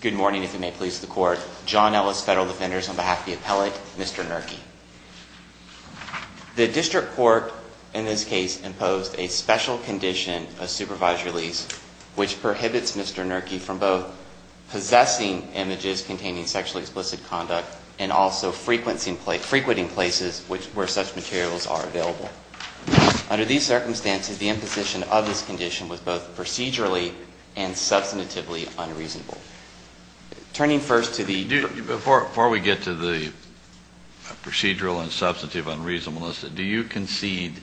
Good morning, if you may please the court. John Ellis, Federal Defenders, on behalf of the Appellate, Mr. Gnirke. The District Court in this case imposed a special condition of supervised release which prohibits Mr. Gnirke from both possessing images containing sexually explicit conduct and also frequenting places where such materials are available. Under these circumstances, the imposition of this condition was both procedurally and substantively unreasonable. Turning first to the... Before we get to the procedural and substantive unreasonableness, do you concede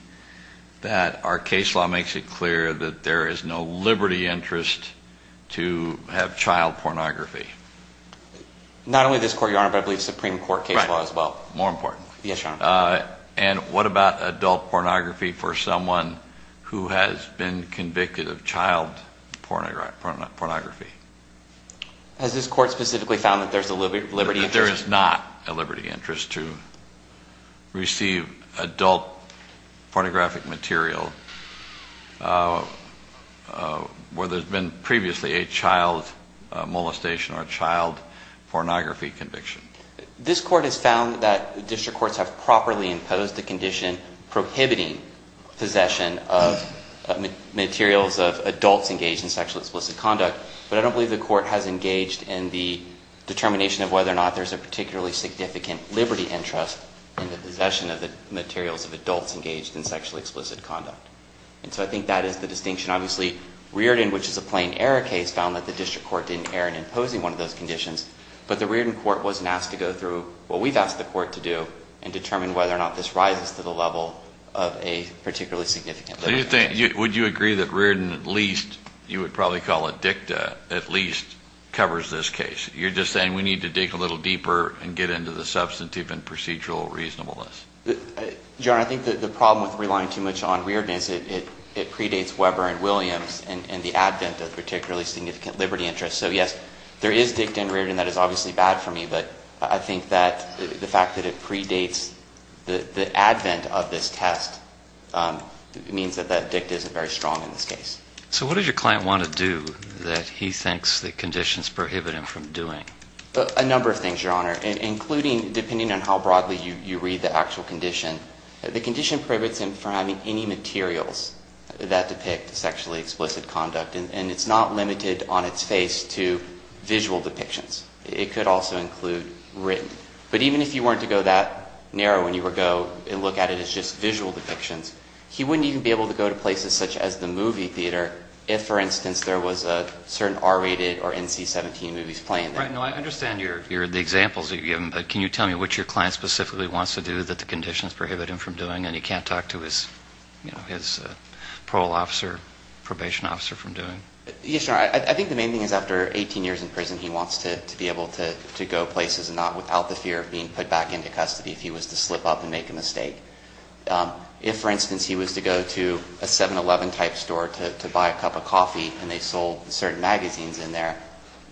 that our case law makes it clear that there is no liberty interest to have child pornography? Not only this court, Your Honor, but I believe Supreme Court case law as well. Yes, Your Honor. And what about adult pornography for someone who has been convicted of child pornography? Has this court specifically found that there's a liberty interest? That there is not a liberty interest to receive adult pornographic material where there's been previously a child molestation or a child pornography conviction. This court has found that district courts have properly imposed the condition prohibiting possession of materials of adults engaged in sexually explicit conduct. But I don't believe the court has engaged in the determination of whether or not there's a particularly significant liberty interest in the possession of the materials of adults engaged in sexually explicit conduct. And so I think that is the distinction. Obviously, Riordan, which is a plain error case, found that the district court didn't err in imposing one of those conditions. But the Riordan court wasn't asked to go through what we've asked the court to do and determine whether or not this rises to the level of a particularly significant liberty interest. Would you agree that Riordan at least, you would probably call it dicta, at least covers this case? You're just saying we need to dig a little deeper and get into the substantive and procedural reasonableness. Your Honor, I think that the problem with relying too much on Riordan is it predates Weber and Williams and the advent of particularly significant liberty interests. So, yes, there is dicta in Riordan. That is obviously bad for me. But I think that the fact that it predates the advent of this test means that that dicta isn't very strong in this case. So what does your client want to do that he thinks the conditions prohibit him from doing? A number of things, Your Honor, including depending on how broadly you read the actual condition. The condition prohibits him from having any materials that depict sexually explicit conduct. And it's not limited on its face to visual depictions. It could also include written. But even if you weren't to go that narrow when you would go and look at it as just visual depictions, he wouldn't even be able to go to places such as the movie theater if, for instance, there was a certain R-rated or NC-17 movies playing there. Right. No, I understand the examples that you've given. But can you tell me what your client specifically wants to do that the conditions prohibit him from doing and he can't talk to his, you know, his parole officer, probation officer from doing? Yes, Your Honor. I think the main thing is after 18 years in prison he wants to be able to go places and not without the fear of being put back into custody if he was to slip up and make a mistake. If, for instance, he was to go to a 7-Eleven type store to buy a cup of coffee and they sold certain magazines in there,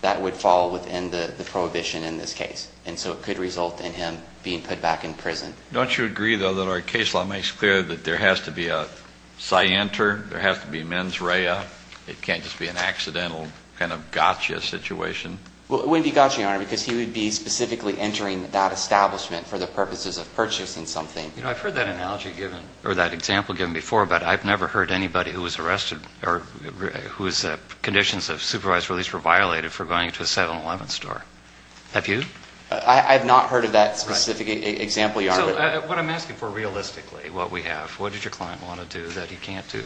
that would fall within the prohibition in this case. And so it could result in him being put back in prison. Don't you agree, though, that our case law makes clear that there has to be a scienter, there has to be mens rea? It can't just be an accidental kind of gotcha situation. Well, it wouldn't be gotcha, Your Honor, because he would be specifically entering that establishment for the purposes of purchasing something. You know, I've heard that analogy given or that example given before, but I've never heard anybody who was arrested or whose conditions of supervised release were violated for going to a 7-Eleven store. Have you? I have not heard of that specific example, Your Honor. So what I'm asking for realistically, what we have, what does your client want to do that he can't do?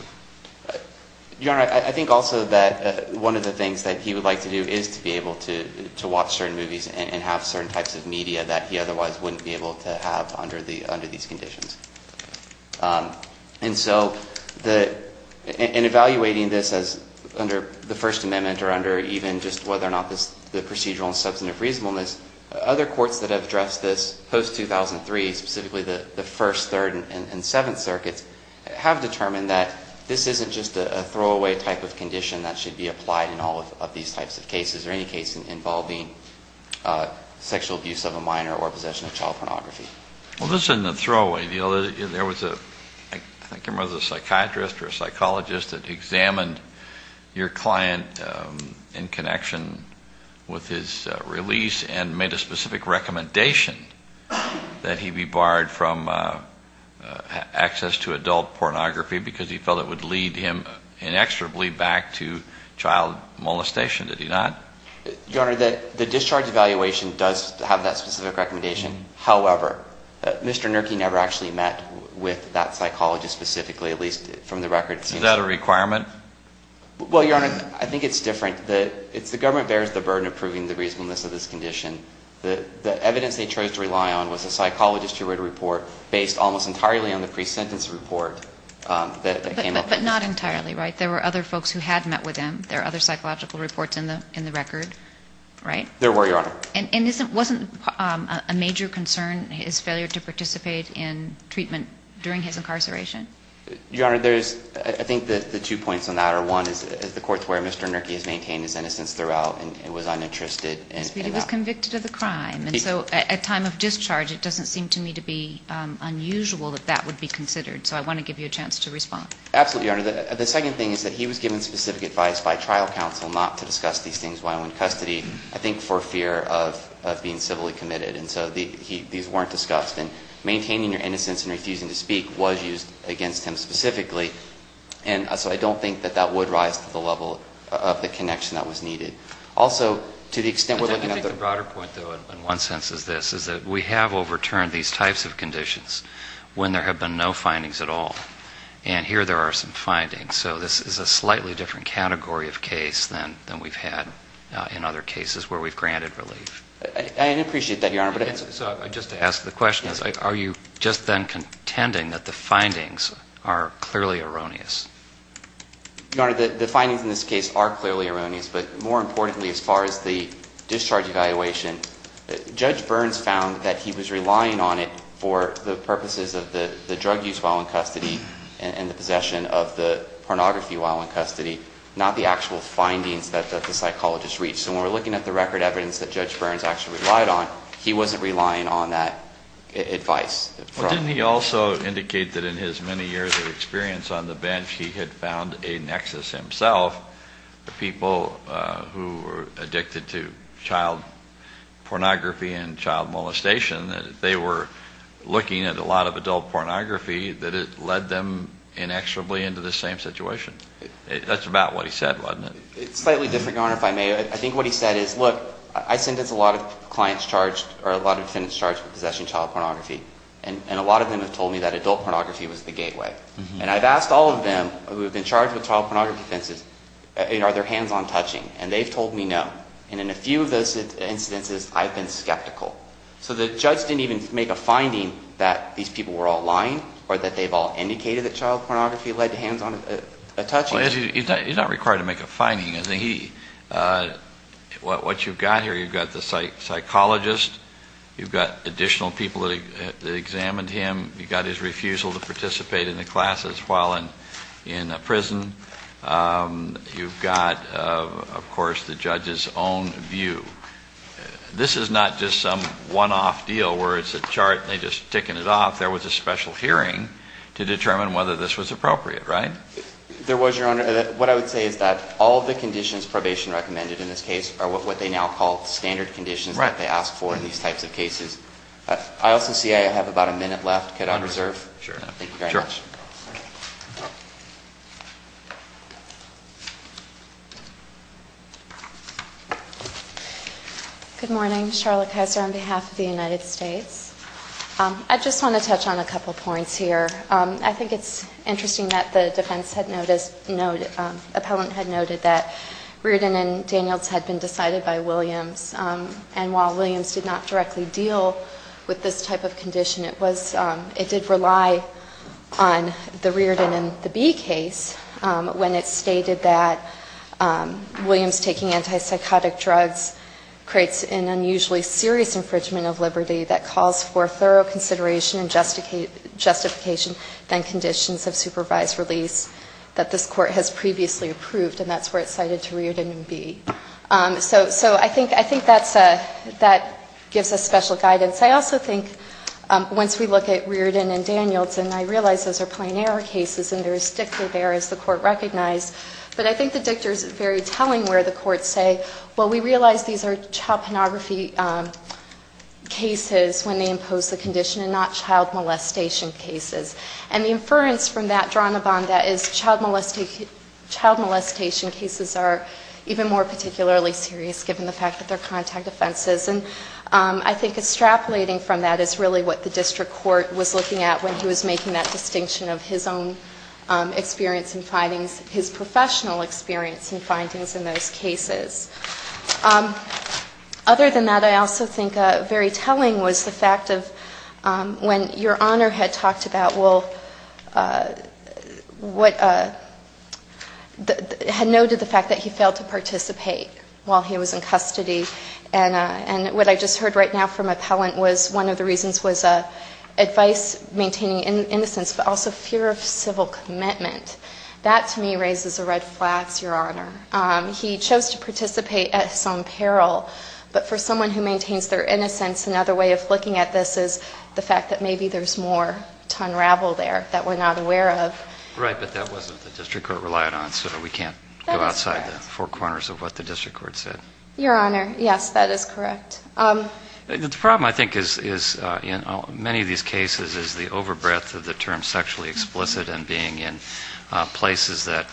Your Honor, I think also that one of the things that he would like to do is to be able to watch certain movies and have certain types of media that he otherwise wouldn't be able to have under these conditions. And so in evaluating this as under the First Amendment or under even just whether or not the procedural and substantive reasonableness, other courts that have addressed this post-2003, specifically the First, Third, and Seventh Circuits, have determined that this isn't just a throwaway type of condition that should be applied in all of these types of cases or any case involving sexual abuse of a minor or possession of child pornography. Well, this isn't a throwaway. There was a, I think it was a psychiatrist or a psychologist that examined your client in connection with his release and made a specific recommendation that he be barred from access to adult pornography because he felt it would lead him inexorably back to child molestation. Did he not? Your Honor, the discharge evaluation does have that specific recommendation. However, Mr. Nurki never actually met with that psychologist specifically, at least from the record. Is that a requirement? Well, Your Honor, I think it's different. The government bears the burden of proving the reasonableness of this condition. The evidence they chose to rely on was a psychologist who wrote a report based almost entirely on the pre-sentence report that came up. But not entirely, right? There were other folks who had met with him. There are other psychological reports in the record, right? There were, Your Honor. And wasn't a major concern his failure to participate in treatment during his incarceration? Your Honor, I think the two points on that are one is the courts where Mr. Nurki has maintained his innocence throughout and was uninterested in that. But he was convicted of the crime. And so at time of discharge, it doesn't seem to me to be unusual that that would be considered. So I want to give you a chance to respond. Absolutely, Your Honor. The second thing is that he was given specific advice by trial counsel not to discuss these things while in custody, I think for fear of being civilly committed. And so these weren't discussed. And maintaining your innocence and refusing to speak was used against him specifically. And so I don't think that that would rise to the level of the connection that was needed. Also, to the extent we're looking at the ---- I think the broader point, though, in one sense is this, is that we have overturned these types of conditions when there have been no findings at all. And here there are some findings. So this is a slightly different category of case than we've had in other cases where we've granted relief. I appreciate that, Your Honor. So just to ask the question, are you just then contending that the findings are clearly erroneous? Your Honor, the findings in this case are clearly erroneous. But more importantly, as far as the discharge evaluation, Judge Burns found that he was relying on it for the purposes of the drug use while in custody and the possession of the pornography while in custody, not the actual findings that the psychologist reached. So when we're looking at the record evidence that Judge Burns actually relied on, he wasn't relying on that advice. Well, didn't he also indicate that in his many years of experience on the bench he had found a nexus himself, the people who were addicted to child pornography and child molestation, that if they were looking at a lot of adult pornography, that it led them inexorably into the same situation? That's about what he said, wasn't it? It's slightly different, Your Honor, if I may. I think what he said is, look, I sentence a lot of clients charged or a lot of defendants charged with possession of child pornography, and a lot of them have told me that adult pornography was the gateway. And I've asked all of them who have been charged with child pornography offenses, are their hands on touching? And they've told me no. And in a few of those instances, I've been skeptical. So the judge didn't even make a finding that these people were all lying or that they've all indicated that child pornography led to hands on touching. Well, he's not required to make a finding, is he? What you've got here, you've got the psychologist, you've got additional people that examined him, you've got his refusal to participate in the classes while in prison. You've got, of course, the judge's own view. This is not just some one-off deal where it's a chart and they're just ticking it off. There was a special hearing to determine whether this was appropriate, right? There was, Your Honor. What I would say is that all the conditions probation recommended in this case are what they now call standard conditions that they ask for in these types of cases. I also see I have about a minute left. Could I reserve? Sure. Thank you very much. Sure. Good morning. Charlotte Kaiser on behalf of the United States. I just want to touch on a couple of points here. I think it's interesting that the defense had noted, appellant had noted that Reardon and Daniels had been decided by Williams. And while Williams did not directly deal with this type of condition, it did rely on the Reardon and the Bee case when it stated that Williams taking antipsychotic drugs creates an unusually serious infringement of liberty that calls for thorough consideration and justification than conditions of supervised release that this court has previously approved. And that's where it's cited to Reardon and Bee. So I think that gives us special guidance. I also think once we look at Reardon and Daniels, and I realize those are plain error cases, and there is DICTA there as the court recognized, but I think the DICTA is very telling where the courts say, well, we realize these are child pornography cases when they impose the condition and not child molestation cases. And the inference from that drawn upon that is child molestation cases are even more particularly serious given the fact that they're contact offenses. And I think extrapolating from that is really what the district court was looking at when he was making that distinction of his own experience and findings, his professional experience and findings in those cases. Other than that, I also think very telling was the fact of when Your Honor had talked about, well, what had noted the fact that he failed to participate while he was in custody, and what I just heard right now from Appellant was one of the reasons was advice maintaining innocence, but also fear of civil commitment. That to me raises a red flag, Your Honor. He chose to participate at his own peril, but for someone who maintains their innocence, another way of looking at this is the fact that maybe there's more to unravel there that we're not aware of. Right, but that wasn't what the district court relied on, so we can't go outside the four corners of what the district court said. Your Honor, yes, that is correct. The problem, I think, is in many of these cases is the overbreadth of the term sexually explicit and being in places that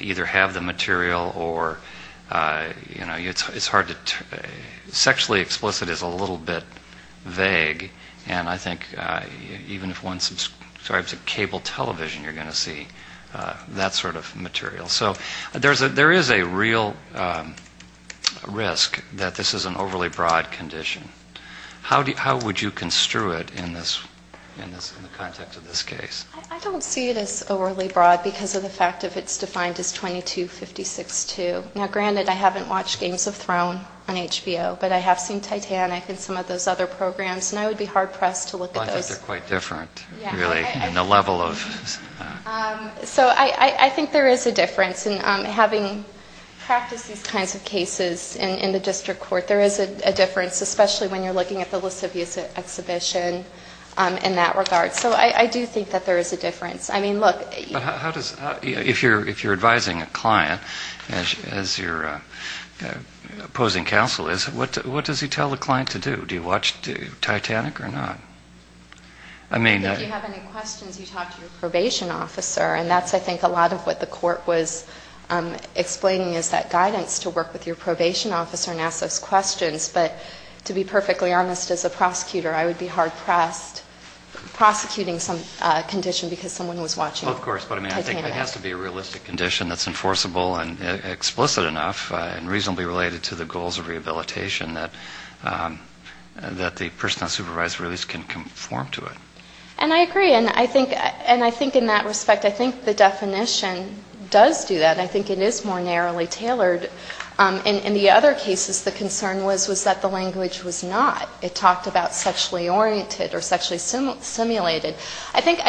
either have the material or, you know, it's hard to, sexually explicit is a little bit vague, and I think even if one subscribes to cable television, you're going to see that sort of material. So there is a real risk that this is an overly broad condition. How would you construe it in the context of this case? I don't see it as overly broad because of the fact that it's defined as 2256-2. Now, granted, I haven't watched Games of Thrones on HBO, but I have seen Titanic and some of those other programs, and I would be hard pressed to look at those. They're quite different, really, in the level of... So I think there is a difference. And having practiced these kinds of cases in the district court, there is a difference, especially when you're looking at the lascivious exhibition in that regard. So I do think that there is a difference. I mean, look... But how does, if you're advising a client, as your opposing counsel is, what does he tell the client to do? Do you watch Titanic or not? If you have any questions, you talk to your probation officer. And that's, I think, a lot of what the court was explaining, is that guidance to work with your probation officer and ask those questions. But to be perfectly honest, as a prosecutor, I would be hard pressed prosecuting some condition because someone was watching Titanic. Well, of course. But I mean, I think it has to be a realistic condition that's enforceable and explicit enough and reasonably related to the goals of the law that the person on supervisory release can conform to it. And I agree. And I think in that respect, I think the definition does do that. I think it is more narrowly tailored. In the other cases, the concern was that the language was not. It talked about sexually oriented or sexually simulated. I think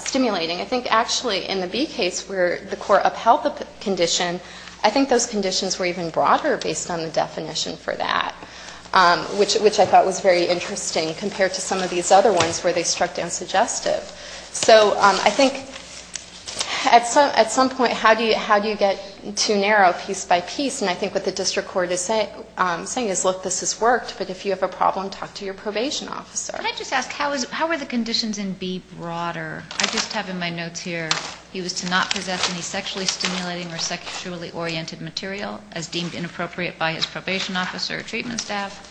stimulating. I think, actually, in the B case where the court upheld the condition, I think those conditions were even broader based on the evidence that I thought was very interesting compared to some of these other ones where they struck down suggestive. So I think at some point, how do you get too narrow piece by piece? And I think what the district court is saying is, look, this has worked. But if you have a problem, talk to your probation officer. Can I just ask, how were the conditions in B broader? I just have in my notes here, he was to not possess any sexually stimulating or sexually oriented material as deemed inappropriate by his probation officer or treatment staff.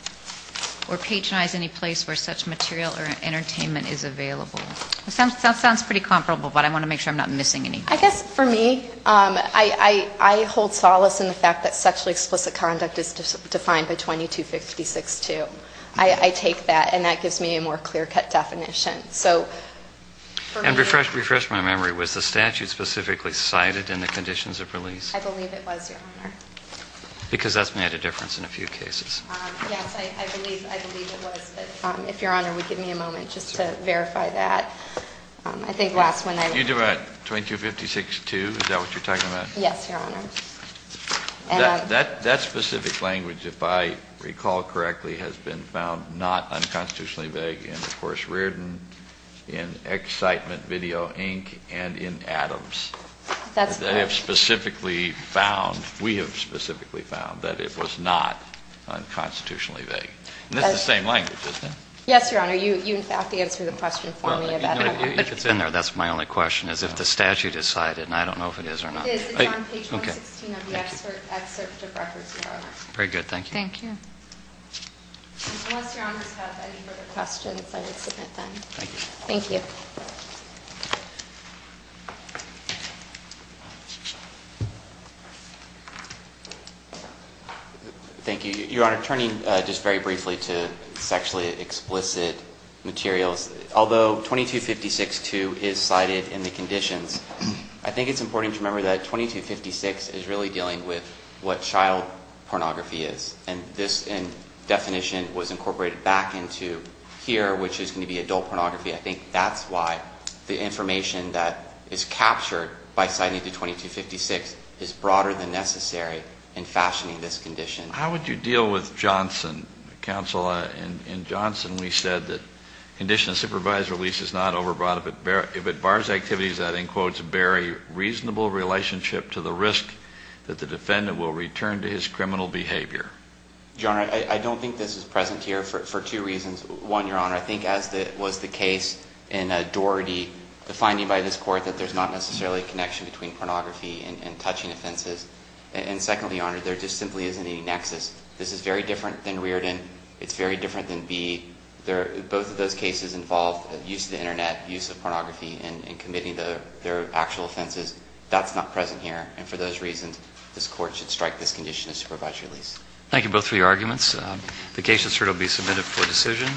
Or patronize any place where such material or entertainment is available. That sounds pretty comparable, but I want to make sure I'm not missing anything. I guess for me, I hold solace in the fact that sexually explicit conduct is defined by 2256-2. I take that. And that gives me a more clear-cut definition. And refresh my memory, was the statute specifically cited in the conditions of release? I believe it was, Your Honor. Because that's made a difference in a few cases. Yes, I believe it was. But if Your Honor would give me a moment just to verify that. I think last when I was... You do what, 2256-2? Is that what you're talking about? Yes, Your Honor. That specific language, if I recall correctly, has been found not unconstitutionally vague in, of course, Riordan, in Excitement Video, Inc., and in Adams. That's correct. We have specifically found that it was not unconstitutionally vague. And that's the same language, isn't it? Yes, Your Honor. You, in fact, answered the question for me about Adams. If it's in there, that's my only question, is if the statute is cited. And I don't know if it is or not. It is. It's on page 116 of the excerpt of records, Your Honor. Very good. Thank you. Thank you. Unless Your Honors have any further questions, I would submit them. Thank you. Thank you. Thank you. Your Honor, turning just very briefly to sexually explicit materials, although 2256-2 is cited in the conditions, I think it's important to remember that 2256 is really dealing with what child pornography is. And this definition was incorporated back into here, which is going to be adult pornography. I think that's why the information that is captured by citing 2256 is broader than necessary in fashioning this condition. How would you deal with Johnson, counsel? In Johnson, we said that condition of supervised release is not overbought. If it bars activities that, in quotes, bear a reasonable relationship to the risk that the defendant will return to his criminal behavior. Your Honor, I don't think this is present here for two reasons. One, Your Honor, I think as was the case in Doherty, the finding by this court that there's not necessarily a connection between pornography and touching offenses. And secondly, Your Honor, there just simply isn't a nexus. This is very different than Reardon. It's very different than B. Both of those cases involve use of the Internet, use of pornography, and committing their actual offenses. That's not present here. And for those reasons, this court should strike this condition as supervised release. Thank you both for your arguments. The case will certainly be submitted for decision.